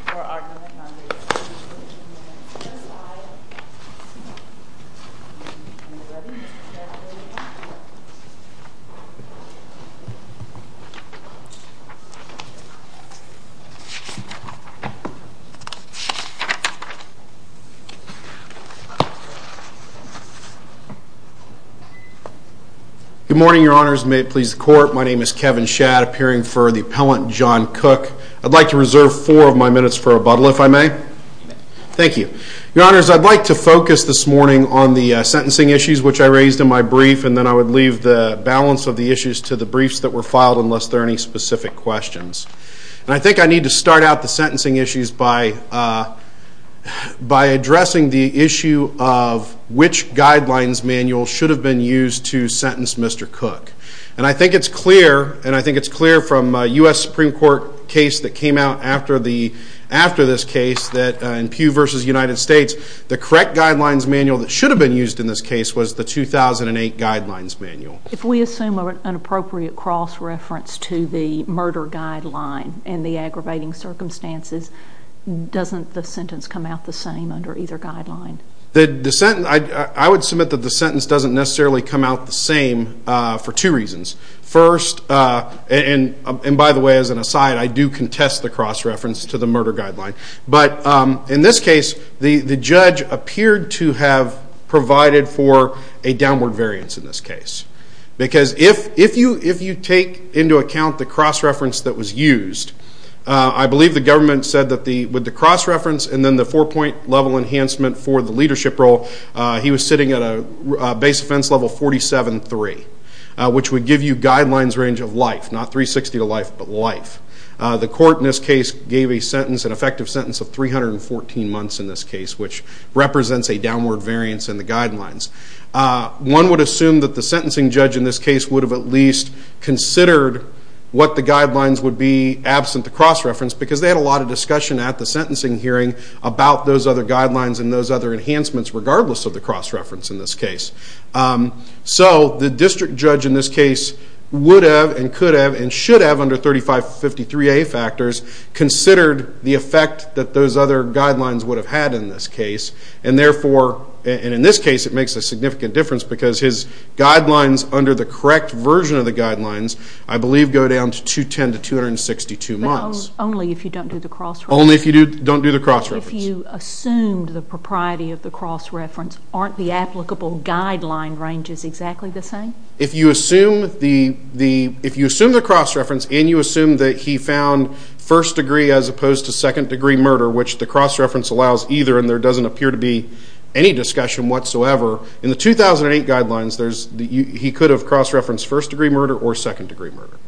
for arguing on the American Civil War in the U.S.S.I. Are you ready? Yes. Good morning, your honors. May it please the court, my name is Kevin Schad, appearing for the appellant John Cook. I'd like to reserve four of my minutes for rebuttal, if I may. Thank you. Your honors, I'd like to focus this morning on the sentencing issues, which I raised in my brief, and then I would leave the balance of the issues to the briefs that were filed, unless there are any specific questions. And I think I need to start out the sentencing issues by addressing the issue of which guidelines manual should have been used to sentence Mr. Cook. And I think it's clear, and I think it's clear from a U.S. Supreme Court case that came out after this case, that in Pew v. United States, the correct guidelines manual that should have been used in this case was the 2008 guidelines manual. If we assume an appropriate cross-reference to the murder guideline and the aggravating circumstances, doesn't the sentence come out the same under either guideline? I would submit that the sentence doesn't necessarily come out the same for two reasons. First, and by the way, as an aside, I do contest the cross-reference to the murder guideline, but in this case, the judge appeared to have provided for a downward variance in this case. Because if you take into account the cross-reference that was used, I believe the government said that with the cross-reference and then the four-point level enhancement for the leadership role, he was sitting at a base offense level 47-3, which would give you guidelines range of life, not 360 to life, but life. The court in this case gave a sentence, an effective sentence of 314 months in this case, which represents a downward variance in the guidelines. One would assume that the sentencing judge in this case would have at least considered what the guidelines would be absent the cross-reference, because they had a lot of discussion at the sentencing hearing about those other guidelines and those other enhancements regardless of the cross-reference in this case. So the district judge in this case would have and could have and should have under 3553A factors considered the effect that those other guidelines would have had in this case. And therefore, and in this case, it makes a significant difference because his guidelines under the correct version of the guidelines, I believe, go down to 210 to 262 months. But only if you don't do the cross-reference? Only if you don't do the cross-reference. So if you assumed the propriety of the cross-reference, aren't the applicable guideline ranges exactly the same? If you assume the cross-reference and you assume that he found first-degree as opposed to second-degree murder, which the cross-reference allows either and there doesn't appear to be any discussion whatsoever, in the 2008 guidelines, he could have cross-referenced first-degree murder or second-degree murder.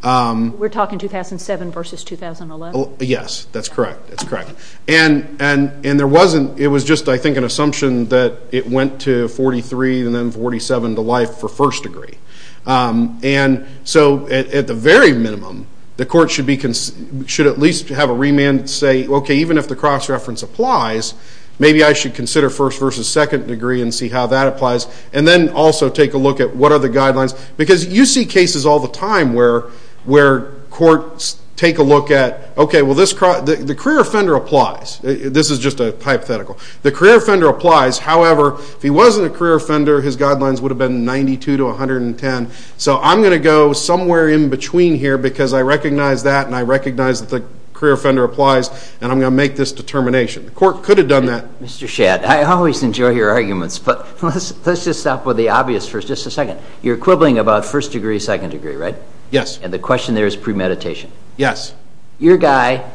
We're talking 2007 versus 2011? Yes, that's correct. That's correct. And there wasn't. It was just, I think, an assumption that it went to 43 and then 47 to life for first-degree. And so at the very minimum, the court should at least have a remand and say, okay, even if the cross-reference applies, maybe I should consider first versus second-degree and see how that applies and then also take a look at what are the guidelines. Because you see cases all the time where courts take a look at, okay, well, the career offender applies. This is just a hypothetical. The career offender applies. However, if he wasn't a career offender, his guidelines would have been 92 to 110. So I'm going to go somewhere in between here because I recognize that and I recognize that the career offender applies and I'm going to make this determination. The court could have done that. Mr. Shad, I always enjoy your arguments, but let's just stop with the obvious for just a second. You're quibbling about first-degree, second-degree, right? Yes. And the question there is premeditation. Yes. Your guy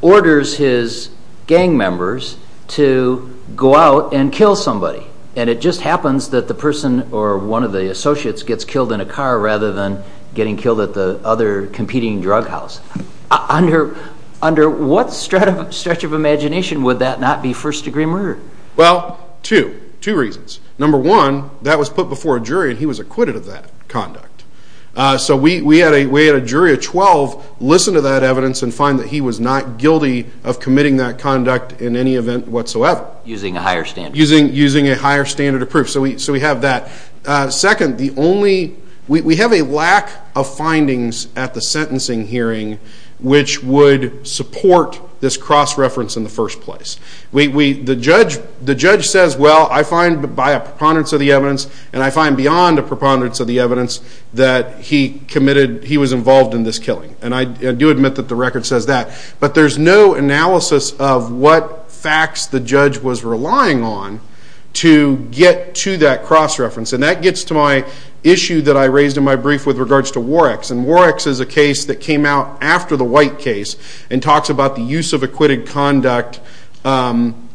orders his gang members to go out and kill somebody, and it just happens that the person or one of the associates gets killed in a car rather than getting killed at the other competing drug house. Under what stretch of imagination would that not be first-degree murder? Well, two, two reasons. Number one, that was put before a jury and he was acquitted of that conduct. So we had a jury of 12 listen to that evidence and find that he was not guilty of committing that conduct in any event whatsoever. Using a higher standard of proof. Using a higher standard of proof. So we have that. Second, we have a lack of findings at the sentencing hearing which would support this cross-reference in the first place. The judge says, well, I find by a preponderance of the evidence and I find beyond a preponderance of the evidence that he committed, he was involved in this killing. And I do admit that the record says that. But there's no analysis of what facts the judge was relying on to get to that cross-reference. And that gets to my issue that I raised in my brief with regards to War X. And War X is a case that came out after the White case and talks about the use of acquitted conduct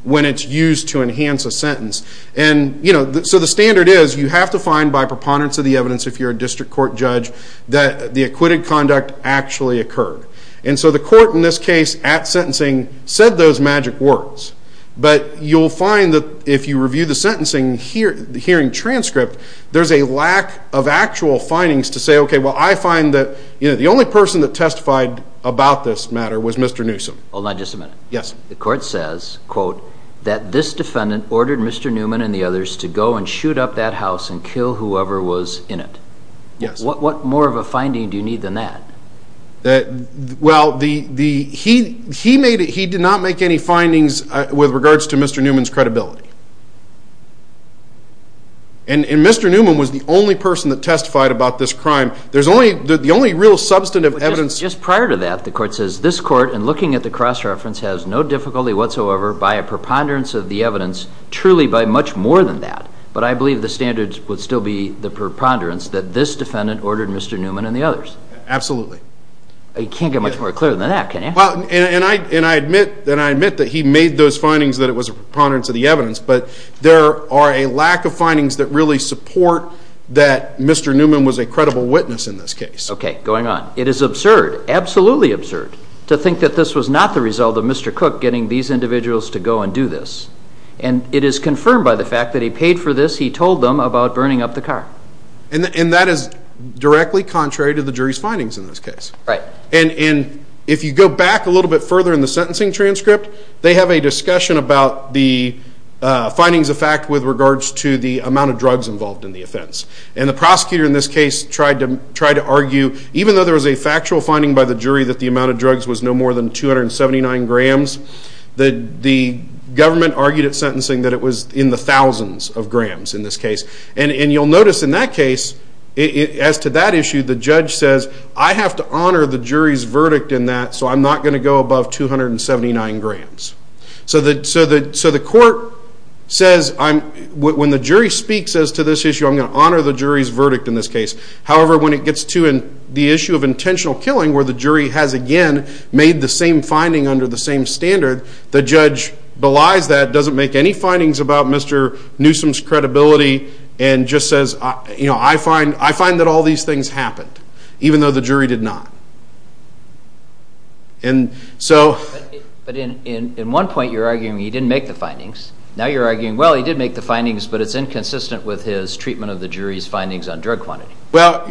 when it's used to enhance a sentence. And so the standard is you have to find by preponderance of the evidence, if you're a district court judge, that the acquitted conduct actually occurred. And so the court in this case at sentencing said those magic words. But you'll find that if you review the sentencing hearing transcript, there's a lack of actual findings to say, okay, well, I find that the only person that testified about this matter was Mr. Newsom. Hold on just a minute. Yes. The court says, quote, that this defendant ordered Mr. Newman and the others to go and shoot up that house and kill whoever was in it. Yes. What more of a finding do you need than that? Well, he did not make any findings with regards to Mr. Newman's credibility. And Mr. Newman was the only person that testified about this crime. There's only the only real substantive evidence. Just prior to that, the court says, this court in looking at the cross-reference has no difficulty whatsoever by a preponderance of the evidence, truly by much more than that. But I believe the standard would still be the preponderance that this defendant ordered Mr. Newman and the others. Absolutely. You can't get much more clear than that, can you? And I admit that he made those findings that it was a preponderance of the evidence, but there are a lack of findings that really support that Mr. Newman was a credible witness in this case. Okay. Going on. It is absurd, absolutely absurd, to think that this was not the result of Mr. Cook getting these individuals to go and do this. And it is confirmed by the fact that he paid for this. He told them about burning up the car. And that is directly contrary to the jury's findings in this case. Right. And if you go back a little bit further in the sentencing transcript, they have a discussion about the findings of fact with regards to the amount of drugs involved in the offense. And the prosecutor in this case tried to argue, even though there was a factual finding by the jury that the amount of drugs was no more than 279 grams, the government argued at sentencing that it was in the thousands of grams in this case. And you'll notice in that case, as to that issue, the judge says, I have to honor the jury's verdict in that, so I'm not going to go above 279 grams. So the court says, when the jury speaks as to this issue, I'm going to honor the jury's verdict in this case. However, when it gets to the issue of intentional killing, where the jury has again made the same finding under the same standard, the judge belies that, doesn't make any findings about Mr. Newsom's credibility, and just says, you know, I find that all these things happened, even though the jury did not. And so... But in one point you're arguing he didn't make the findings. Now you're arguing, well, he did make the findings, but it's inconsistent with his treatment of the jury's findings on drug quantity. Well,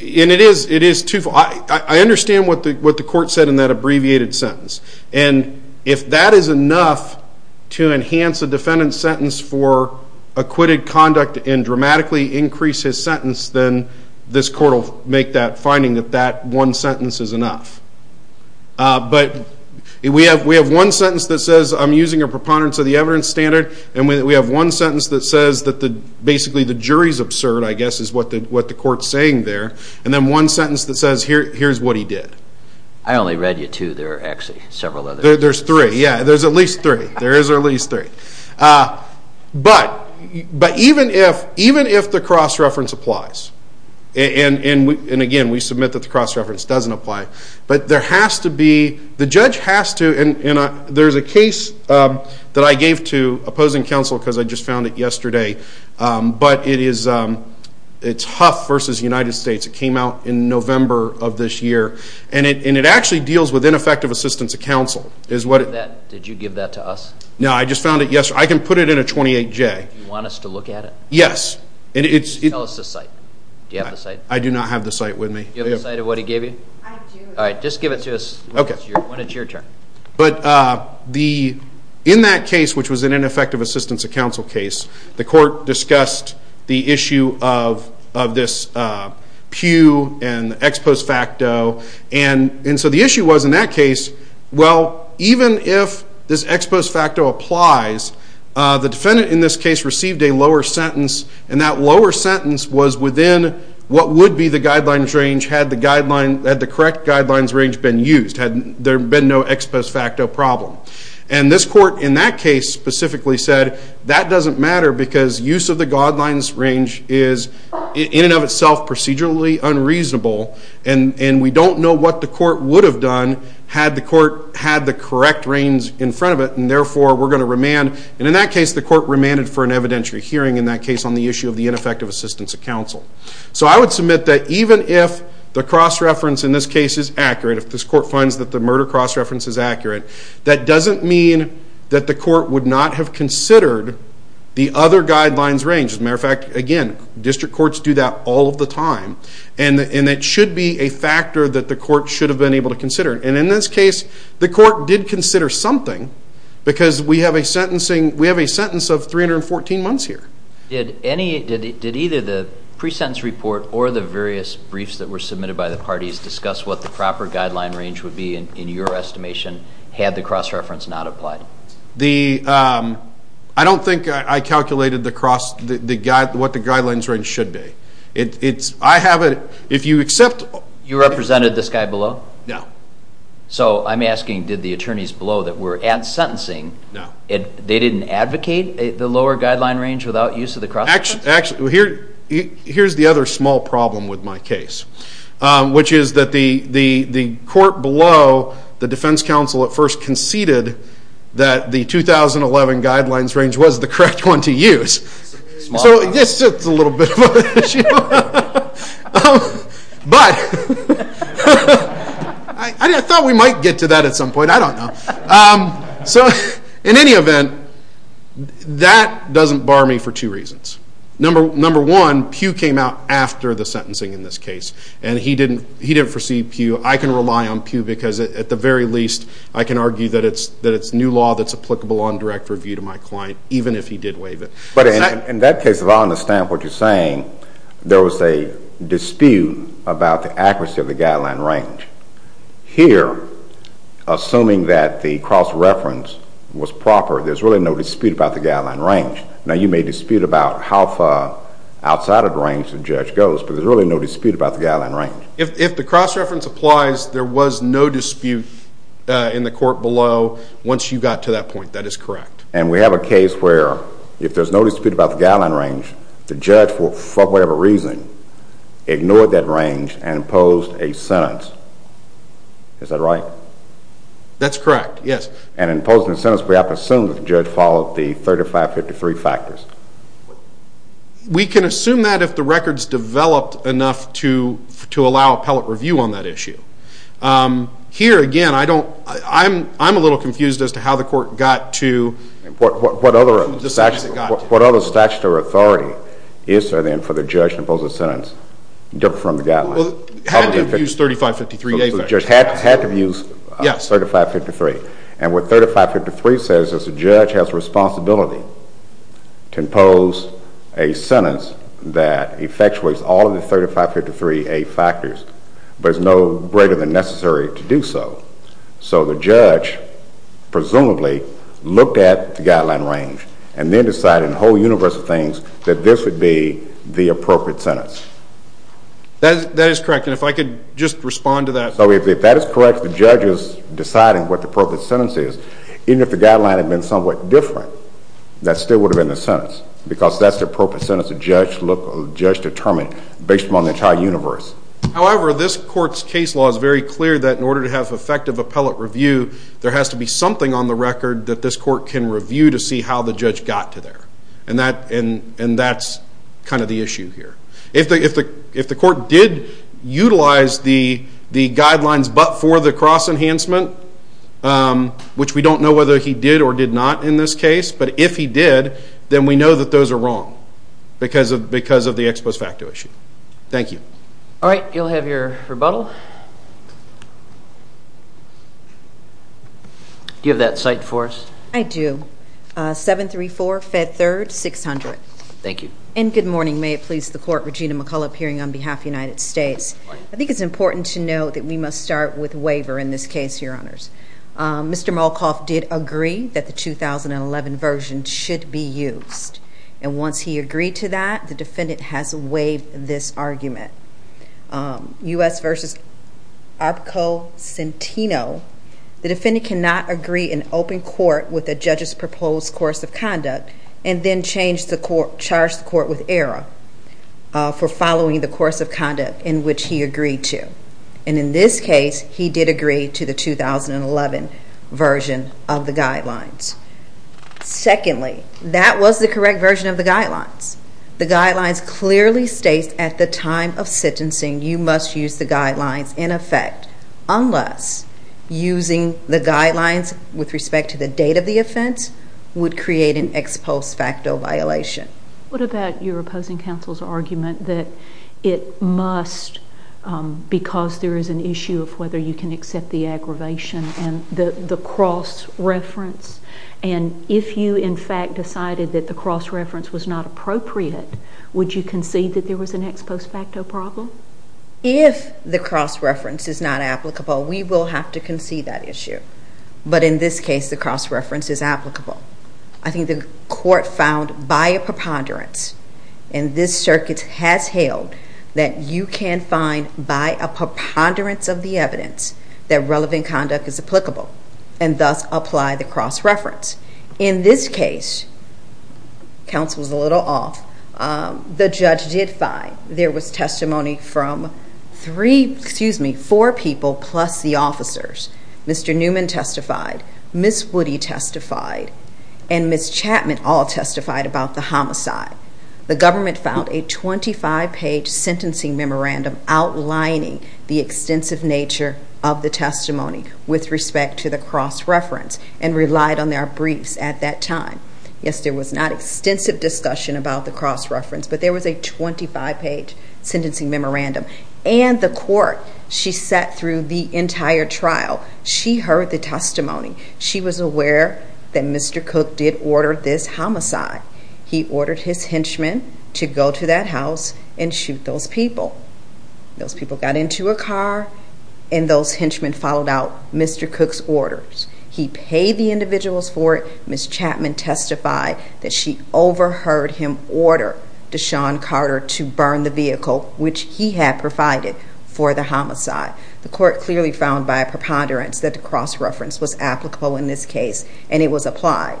and it is twofold. I understand what the court said in that abbreviated sentence. And if that is enough to enhance a defendant's sentence for acquitted conduct and dramatically increase his sentence, then this court will make that finding that that one sentence is enough. But we have one sentence that says, I'm using a preponderance of the evidence standard, and we have one sentence that says that basically the jury's absurd, I guess, is what the court's saying there, and then one sentence that says, here's what he did. I only read you two. There are actually several others. There's three. Yeah, there's at least three. There is at least three. But even if the cross-reference applies, and again, we submit that the cross-reference doesn't apply, but there has to be, the judge has to, and there's a case that I gave to opposing counsel because I just found it yesterday, but it is Huff v. United States. It came out in November of this year, and it actually deals with ineffective assistance of counsel. Did you give that to us? No, I just found it yesterday. I can put it in a 28J. Do you want us to look at it? Yes. Tell us the site. Do you have the site? I do not have the site with me. Do you have the site of what he gave you? I do. All right, just give it to us when it's your turn. But in that case, which was an ineffective assistance of counsel case, the court discussed the issue of this pew and the ex post facto, and so the issue was in that case, well, even if this ex post facto applies, the defendant in this case received a lower sentence, and that lower sentence was within what would be the guidelines range had the correct guidelines range been used, had there been no ex post facto problem. And this court in that case specifically said, that doesn't matter because use of the guidelines range is, in and of itself, procedurally unreasonable, and we don't know what the court would have done had the court had the correct range in front of it, and therefore we're going to remand. And in that case, the court remanded for an evidentiary hearing in that case on the issue of the ineffective assistance of counsel. So I would submit that even if the cross-reference in this case is accurate, if this court finds that the murder cross-reference is accurate, that doesn't mean that the court would not have considered the other guidelines range. As a matter of fact, again, district courts do that all of the time, and it should be a factor that the court should have been able to consider. And in this case, the court did consider something because we have a sentence of 314 months here. Did either the pre-sentence report or the various briefs that were submitted by the parties discuss what the proper guideline range would be in your estimation had the cross-reference not applied? I don't think I calculated what the guidelines range should be. I have it. If you accept... You represented this guy below? No. So I'm asking, did the attorneys below that were at sentencing, they didn't advocate the lower guideline range without use of the cross-reference? Actually, here's the other small problem with my case, which is that the court below, the defense counsel at first conceded that the 2011 guidelines range was the correct one to use. So this is a little bit of an issue. But... I thought we might get to that at some point. I don't know. So in any event, that doesn't bar me for two reasons. Number one, Pugh came out after the sentencing in this case, and he didn't foresee Pugh. I can rely on Pugh because, at the very least, I can argue that it's new law that's applicable on direct review to my client, even if he did waive it. But in that case, if I understand what you're saying, there was a dispute about the accuracy of the guideline range. Here, assuming that the cross-reference was proper, there's really no dispute about the guideline range. Now, you may dispute about how far outside of the range the judge goes, but there's really no dispute about the guideline range. If the cross-reference applies, there was no dispute in the court below once you got to that point. That is correct. And we have a case where, if there's no dispute about the guideline range, the judge, for whatever reason, ignored that range and imposed a sentence. Is that right? That's correct, yes. And in imposing a sentence, we have to assume that the judge followed the 3553 factors. We can assume that if the record's developed enough to allow appellate review on that issue. Here, again, I'm a little confused as to how the court got to... What other statutory authority is there, then, for the judge to impose a sentence different from the guideline? Had to have used 3553A factors. The judge had to have used 3553. And what 3553 says is the judge has a responsibility to impose a sentence that effectuates all of the 3553A factors, but is no greater than necessary to do so. So the judge, presumably, looked at the guideline range and then decided, in the whole universe of things, that this would be the appropriate sentence. That is correct. And if I could just respond to that... So if that is correct, the judge is deciding what the appropriate sentence is. Even if the guideline had been somewhat different, that still would have been the sentence because that's the appropriate sentence the judge determined based upon the entire universe. However, this court's case law is very clear that in order to have effective appellate review, there has to be something on the record that this court can review to see how the judge got to there. And that's kind of the issue here. If the court did utilize the guidelines but for the cross-enhancement, which we don't know whether he did or did not in this case, but if he did, then we know that those are wrong because of the ex post facto issue. Thank you. All right. You'll have your rebuttal. Do you have that cited for us? I do. 734, Fed Third, 600. Thank you. And good morning. May it please the court, Regina McCullough, appearing on behalf of the United States. I think it's important to note that we must start with waiver in this case, Your Honors. Mr. Malkoff did agree that the 2011 version should be used. And once he agreed to that, the defendant has waived this argument. U.S. v. Abko-Centino, the defendant cannot agree in open court with the judge's proposed course of conduct and then charge the court with error for following the course of conduct in which he agreed to. And in this case, he did agree to the 2011 version of the guidelines. Secondly, that was the correct version of the guidelines. The guidelines clearly state at the time of sentencing, you must use the guidelines in effect unless using the guidelines with respect to the date of the offense would create an ex post facto violation. What about your opposing counsel's argument that it must, because there is an issue of whether you can accept the aggravation and the cross-reference, and if you in fact decided that the cross-reference was not appropriate, would you concede that there was an ex post facto problem? If the cross-reference is not applicable, we will have to concede that issue. But in this case, the cross-reference is applicable. I think the court found by a preponderance, and this circuit has hailed that you can find by a preponderance of the evidence that relevant conduct is applicable and thus apply the cross-reference. In this case, counsel's a little off, the judge did find there was testimony from three, excuse me, four people plus the officers. Mr. Newman testified, Ms. Woody testified, and Ms. Chapman all testified about the homicide. The government found a 25-page sentencing memorandum outlining the extensive nature of the testimony with respect to the cross-reference and relied on their briefs at that time. Yes, there was not extensive discussion about the cross-reference, but there was a 25-page sentencing memorandum. And the court, she sat through the entire trial. She heard the testimony. She was aware that Mr. Cook did order this homicide. He ordered his henchmen to go to that house and shoot those people. Those people got into a car, and those henchmen followed out Mr. Cook's orders. He paid the individuals for it. Ms. Chapman testified that she overheard him order Deshawn Carter to burn the vehicle, which he had provided for the homicide. The court clearly found by a preponderance that the cross-reference was applicable in this case, and it was applied.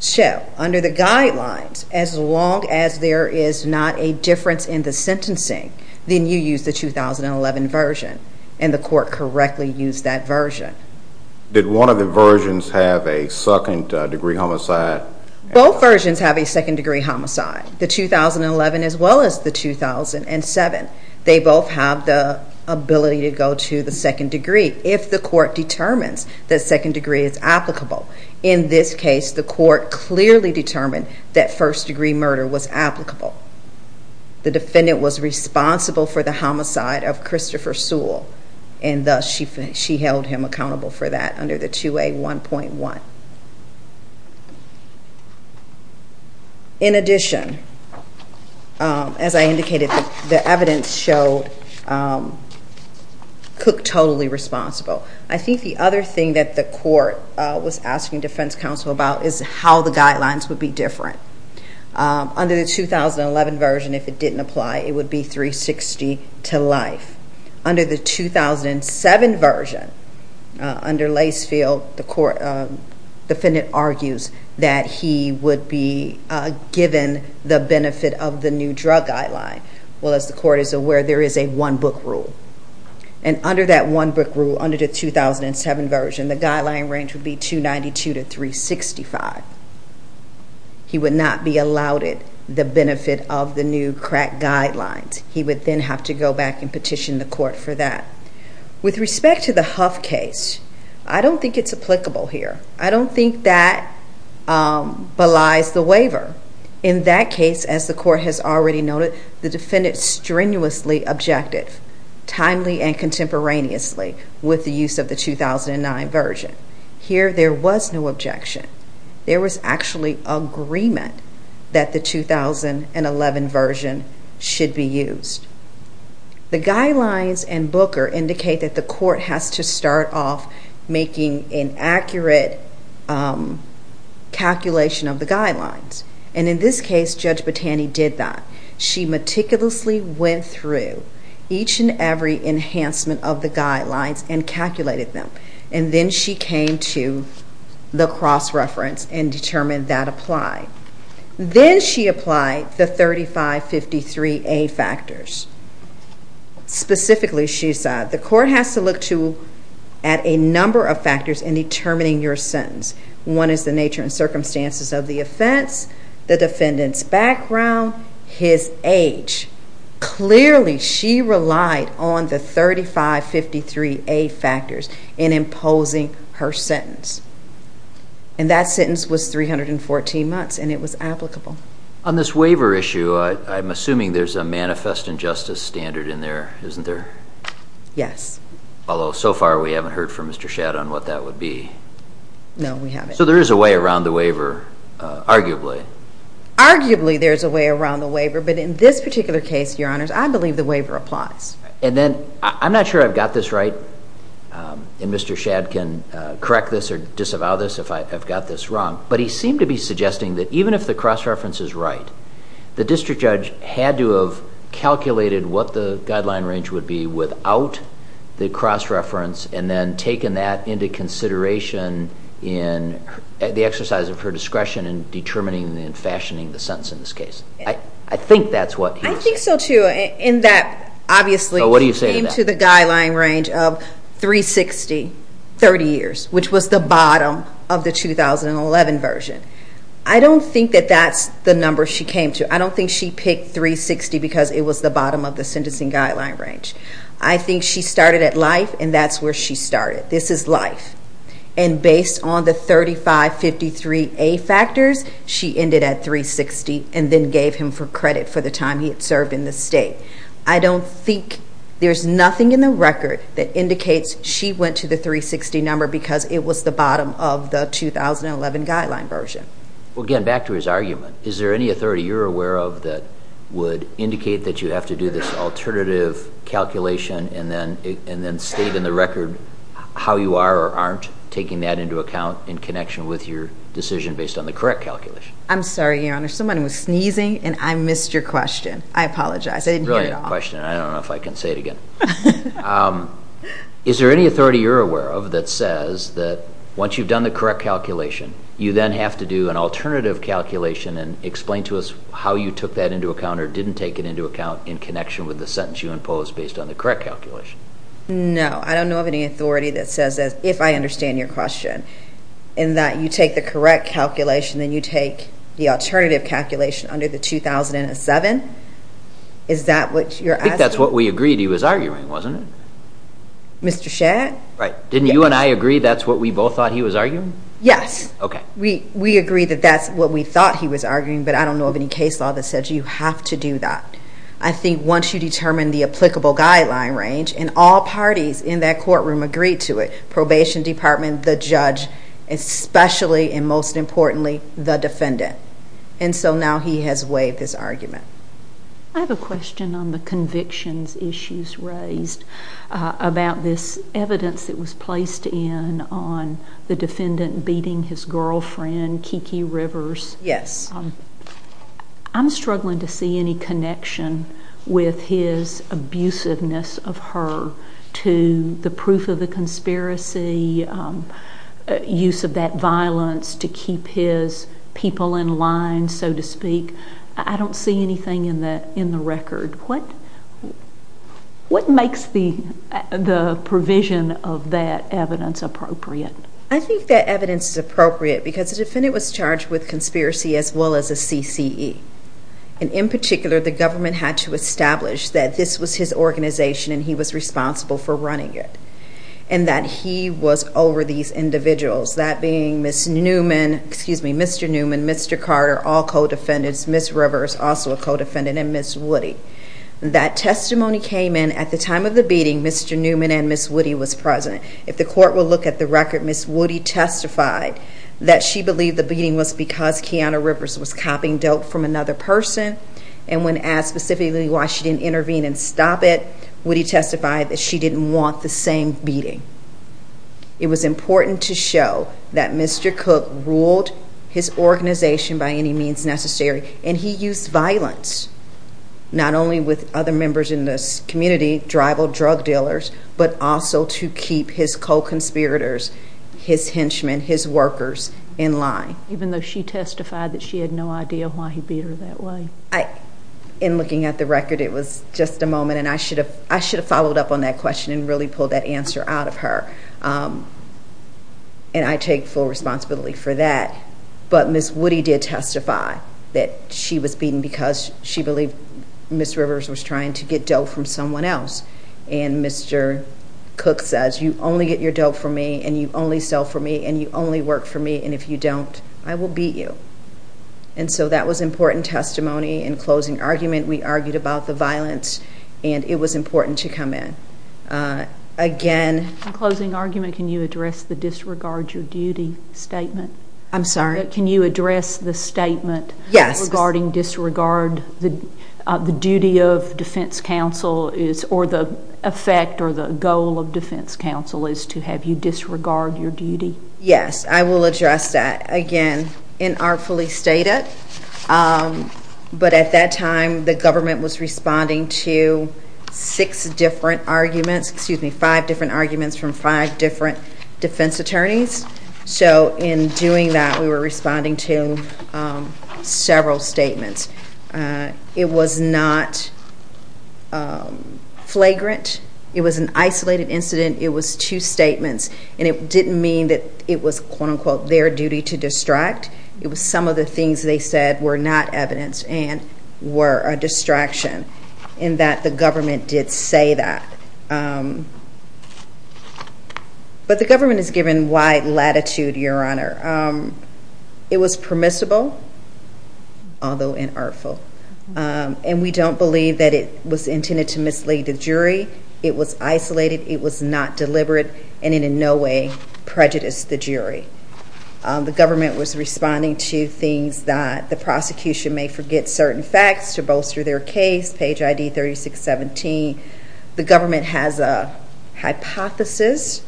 So under the guidelines, as long as there is not a difference in the sentencing, then you use the 2011 version, and the court correctly used that version. Did one of the versions have a second-degree homicide? Both versions have a second-degree homicide, the 2011 as well as the 2007. They both have the ability to go to the second degree if the court determines that second degree is applicable. In this case, the court clearly determined that first-degree murder was applicable. The defendant was responsible for the homicide of Christopher Sewell, and thus she held him accountable for that under the 2A1.1. In addition, as I indicated, the evidence showed Cook totally responsible. I think the other thing that the court was asking defense counsel about is how the guidelines would be different. Under the 2011 version, if it didn't apply, it would be 360 to life. Under the 2007 version, under Lasefield, the defendant argues that he would be given the benefit of the new drug guideline. Well, as the court is aware, there is a one-book rule, and under that one-book rule, under the 2007 version, the guideline range would be 292 to 365. He would not be allowed the benefit of the new crack guidelines. He would then have to go back and petition the court for that. With respect to the Huff case, I don't think it's applicable here. I don't think that belies the waiver. In that case, as the court has already noted, the defendant strenuously objected, timely and contemporaneously, with the use of the 2009 version. Here, there was no objection. There was actually agreement that the 2011 version should be used. The guidelines and Booker indicate that the court has to start off making an accurate calculation of the guidelines. And in this case, Judge Botani did that. She meticulously went through each and every enhancement of the guidelines and calculated them. And then she came to the cross-reference and determined that applied. Then she applied the 3553A factors. Specifically, she said, the court has to look at a number of factors in determining your sentence. One is the nature and circumstances of the offense, the defendant's background, his age. Clearly, she relied on the 3553A factors in imposing her sentence. And that sentence was 314 months, and it was applicable. On this waiver issue, I'm assuming there's a manifest injustice standard in there, isn't there? Yes. Although, so far, we haven't heard from Mr. Shadd on what that would be. No, we haven't. So there is a way around the waiver, arguably. Arguably, there's a way around the waiver. But in this particular case, Your Honors, I believe the waiver applies. And then, I'm not sure I've got this right, and Mr. Shadd can correct this or disavow this if I've got this wrong, but he seemed to be suggesting that even if the cross-reference is right, the district judge had to have calculated what the guideline range would be without the cross-reference and then taken that into consideration in the exercise of her discretion in determining and fashioning the sentence in this case. I think that's what he said. I think so, too, in that, obviously, she came to the guideline range of 360, 30 years, which was the bottom of the 2011 version. I don't think that that's the number she came to. I don't think she picked 360 because it was the bottom of the sentencing guideline range. I think she started at life, and that's where she started. This is life. And based on the 3553A factors, she ended at 360 and then gave him for credit for the time he had served in the state. I don't think there's nothing in the record that indicates she went to the 360 number because it was the bottom of the 2011 guideline version. Well, again, back to his argument, is there any authority you're aware of that would indicate that you have to do this alternative calculation and then state in the record how you are or aren't taking that into account in connection with your decision based on the correct calculation? I'm sorry, Your Honor. Somebody was sneezing, and I missed your question. I apologize. I didn't hear it all. It's a brilliant question, and I don't know if I can say it again. Is there any authority you're aware of that says that once you've done the correct calculation, you then have to do an alternative calculation and explain to us how you took that into account or didn't take it into account in connection with the sentence you imposed based on the correct calculation? No. I don't know of any authority that says that, if I understand your question, in that you take the correct calculation, then you take the alternative calculation under the 2007? Is that what you're asking? I think that's what we agreed he was arguing, wasn't it? Mr. Shedd? Right. Didn't you and I agree that's what we both thought he was arguing? Okay. We agreed that that's what we thought he was arguing, but I don't know of any case law that says you have to do that. I think once you determine the applicable guideline range, and all parties in that courtroom agreed to it, probation department, the judge, especially and most importantly, the defendant. And so now he has waived his argument. I have a question on the convictions issues raised about this evidence that was placed in on the defendant beating his girlfriend, Kiki Rivers. Yes. I'm struggling to see any connection with his abusiveness of her to the proof of the conspiracy, use of that violence to keep his people in line, so to speak. I don't see anything in the record. What makes the provision of that evidence appropriate? I think that evidence is appropriate because the defendant was charged with conspiracy as well as a CCE. And in particular, the government had to establish that this was his organization and he was responsible for running it and that he was over these individuals, that being Mr. Newman, Mr. Carter, all co-defendants, Ms. Rivers, also a co-defendant, and Ms. Woody. That testimony came in at the time of the beating. Mr. Newman and Ms. Woody was present. If the court will look at the record, Ms. Woody testified that she believed the beating was because Kiana Rivers was copying dope from another person, and when asked specifically why she didn't intervene and stop it, Woody testified that she didn't want the same beating. It was important to show that Mr. Cook ruled his organization by any means necessary, and he used violence not only with other members in this community, tribal drug dealers, but also to keep his co-conspirators, his henchmen, his workers in line. Even though she testified that she had no idea why he beat her that way? In looking at the record, it was just a moment, and I should have followed up on that question and really pulled that answer out of her, and I take full responsibility for that. But Ms. Woody did testify that she was beaten because she believed Ms. Rivers was trying to get dope from someone else, and Mr. Cook says, You only get your dope from me, and you only sell for me, and you only work for me, and if you don't, I will beat you. And so that was important testimony. In closing argument, we argued about the violence, and it was important to come in. In closing argument, can you address the disregard your duty statement? I'm sorry? Can you address the statement regarding disregard the duty of defense counsel, or the effect or the goal of defense counsel is to have you disregard your duty? Yes, I will address that. Again, inartfully stated. But at that time, the government was responding to six different arguments, excuse me, five different arguments from five different defense attorneys. So in doing that, we were responding to several statements. It was not flagrant. It was an isolated incident. It was two statements, and it didn't mean that it was, quote-unquote, their duty to distract. It was some of the things they said were not evidence and were a distraction, in that the government did say that. But the government has given wide latitude, Your Honor. It was permissible, although inartful. And we don't believe that it was intended to mislead the jury. It was isolated. It was not deliberate, and in no way prejudiced the jury. The government was responding to things that the prosecution may forget certain facts to bolster their case, page ID 3617. The government has a hypothesis,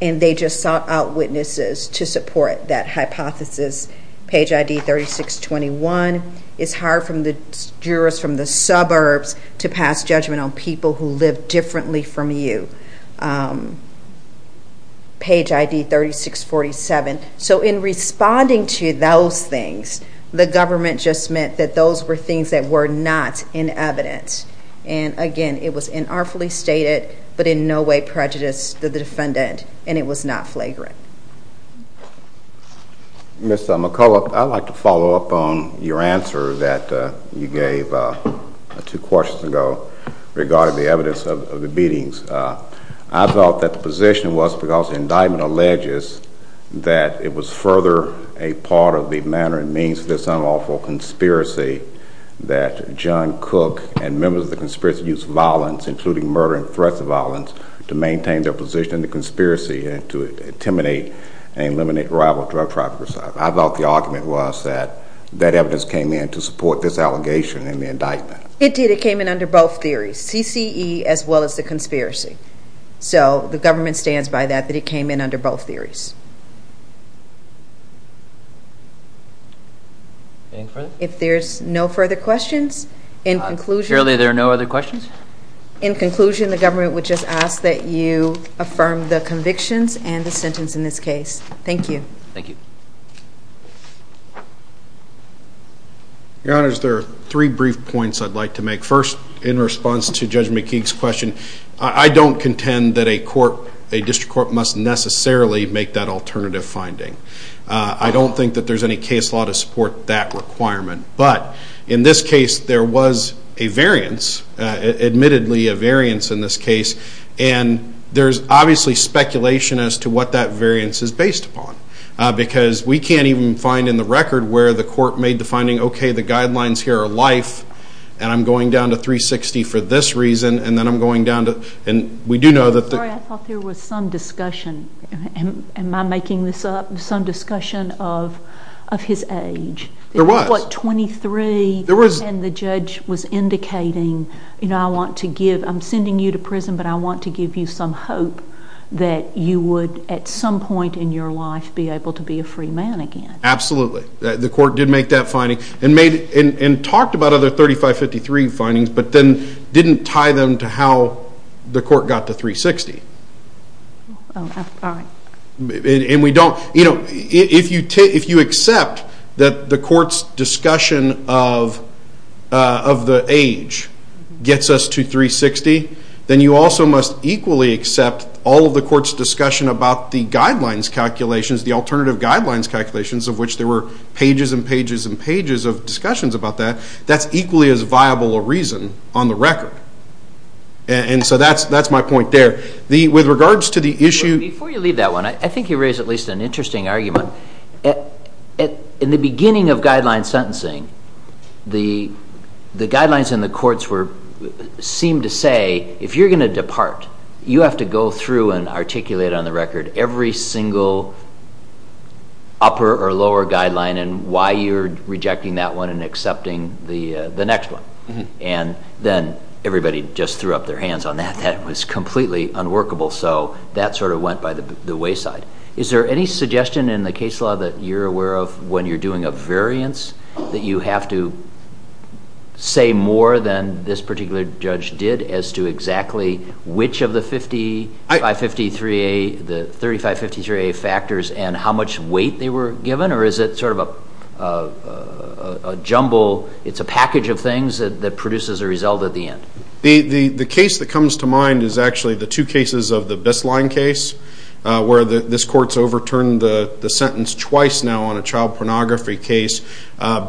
and they just sought out witnesses to support that hypothesis, page ID 3621. It's hard for the jurors from the suburbs to pass judgment on people who live differently from you, page ID 3647. So in responding to those things, the government just meant that those were things that were not in evidence. And, again, it was inartfully stated, but in no way prejudiced the defendant, and it was not flagrant. Ms. McCullough, I'd like to follow up on your answer that you gave two questions ago regarding the evidence of the beatings. I thought that the position was because the indictment alleges that it was further a part of the manner and means of this unlawful conspiracy that John Cook and members of the conspiracy used violence, including murder and threats of violence, to maintain their position in the conspiracy and to intimidate and eliminate rival drug traffickers. I thought the argument was that that evidence came in to support this allegation in the indictment. It did. It came in under both theories, CCE as well as the conspiracy. So the government stands by that, that it came in under both theories. Any further? If there's no further questions, in conclusion... Surely there are no other questions? In conclusion, the government would just ask that you affirm the convictions and the sentence in this case. Thank you. Thank you. Your Honors, there are three brief points I'd like to make. First, in response to Judge McKeague's question, I don't contend that a court, a district court, must necessarily make that alternative finding. I don't think that there's any case law to support that requirement. But in this case, there was a variance, admittedly a variance in this case, and there's obviously speculation as to what that variance is based upon because we can't even find in the record where the court made the finding, okay, the guidelines here are life, and I'm going down to 360 for this reason, and then I'm going down to... I'm sorry, I thought there was some discussion. Am I making this up? Some discussion of his age. There was. He was, what, 23, and the judge was indicating, you know, I'm sending you to prison, but I want to give you some hope that you would at some point in your life be able to be a free man again. Absolutely. The court did make that finding and talked about other 3553 findings but then didn't tie them to how the court got to 360. And we don't, you know, if you accept that the court's discussion of the age gets us to 360, then you also must equally accept all of the court's discussion about the guidelines calculations, the alternative guidelines calculations of which there were pages and pages and pages of discussions about that. That's equally as viable a reason on the record. And so that's my point there. With regards to the issue... Before you leave that one, I think you raised at least an interesting argument. In the beginning of guideline sentencing, the guidelines in the courts seemed to say if you're going to depart, you have to go through and articulate on the record every single upper or lower guideline and why you're rejecting that one and accepting the next one. And then everybody just threw up their hands on that. That was completely unworkable. So that sort of went by the wayside. Is there any suggestion in the case law that you're aware of when you're doing a variance that you have to say more than this particular judge did as to exactly which of the 3553A factors and how much weight they were given or is it sort of a jumble? It's a package of things that produces a result at the end. The case that comes to mind is actually the two cases of the Bisline case where this court's overturned the sentence twice now on a child pornography case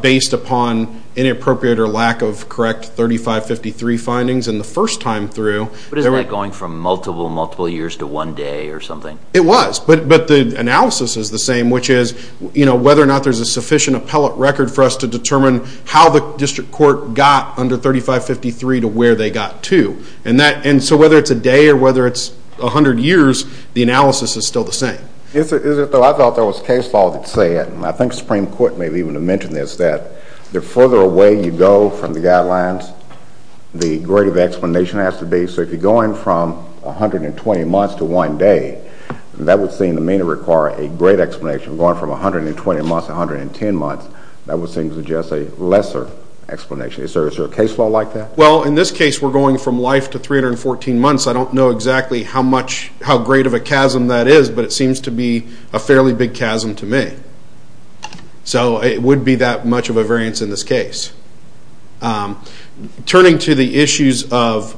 based upon inappropriate or lack of correct 3553 findings. And the first time through... But isn't that going from multiple, multiple years to one day or something? It was. But the analysis is the same, which is whether or not there's a sufficient appellate record for us to determine how the district court got under 3553 to where they got to. And so whether it's a day or whether it's a hundred years, the analysis is still the same. I thought there was case law that said, and I think the Supreme Court may have even mentioned this, that the further away you go from the guidelines, the greater the explanation has to be. So if you're going from 120 months to one day, that would seem to me to require a great explanation. Going from 120 months to 110 months, that would seem to suggest a lesser explanation. Is there a case law like that? Well, in this case, we're going from life to 314 months. I don't know exactly how great of a chasm that is, but it seems to be a fairly big chasm to me. So it would be that much of a variance in this case. Turning to the issues of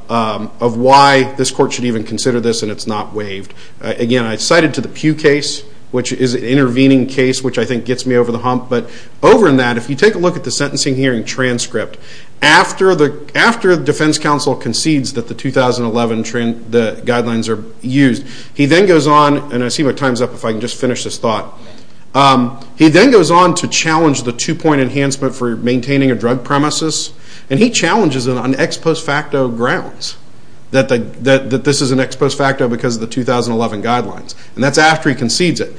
why this court should even consider this, and it's not waived. Again, I cited to the Pew case, which is an intervening case, which I think gets me over the hump. But over in that, if you take a look at the sentencing hearing transcript, after the defense counsel concedes that the 2011 guidelines are used, he then goes on, and I see my time's up, if I can just finish this thought. He then goes on to challenge the two-point enhancement for maintaining a drug premises, and he challenges it on ex post facto grounds that this is an ex post facto because of the 2011 guidelines. And that's after he concedes it.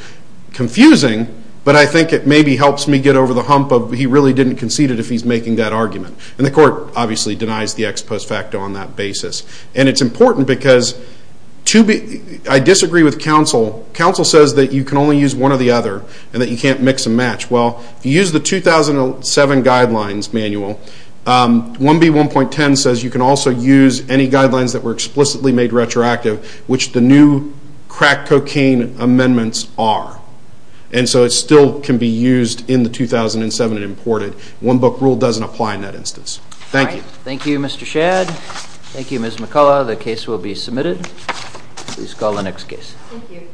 Confusing, but I think it maybe helps me get over the hump of he really didn't concede it if he's making that argument. And the court obviously denies the ex post facto on that basis. And it's important because I disagree with counsel. Counsel says that you can only use one or the other and that you can't mix and match. Well, if you use the 2007 guidelines manual, 1B1.10 says you can also use any guidelines that were explicitly made retroactive, which the new crack cocaine amendments are. And so it still can be used in the 2007 and imported. One book rule doesn't apply in that instance. Thank you. Thank you, Mr. Shadd. Thank you, Ms. McCullough. The case will be submitted. Please call the next case. Thank you.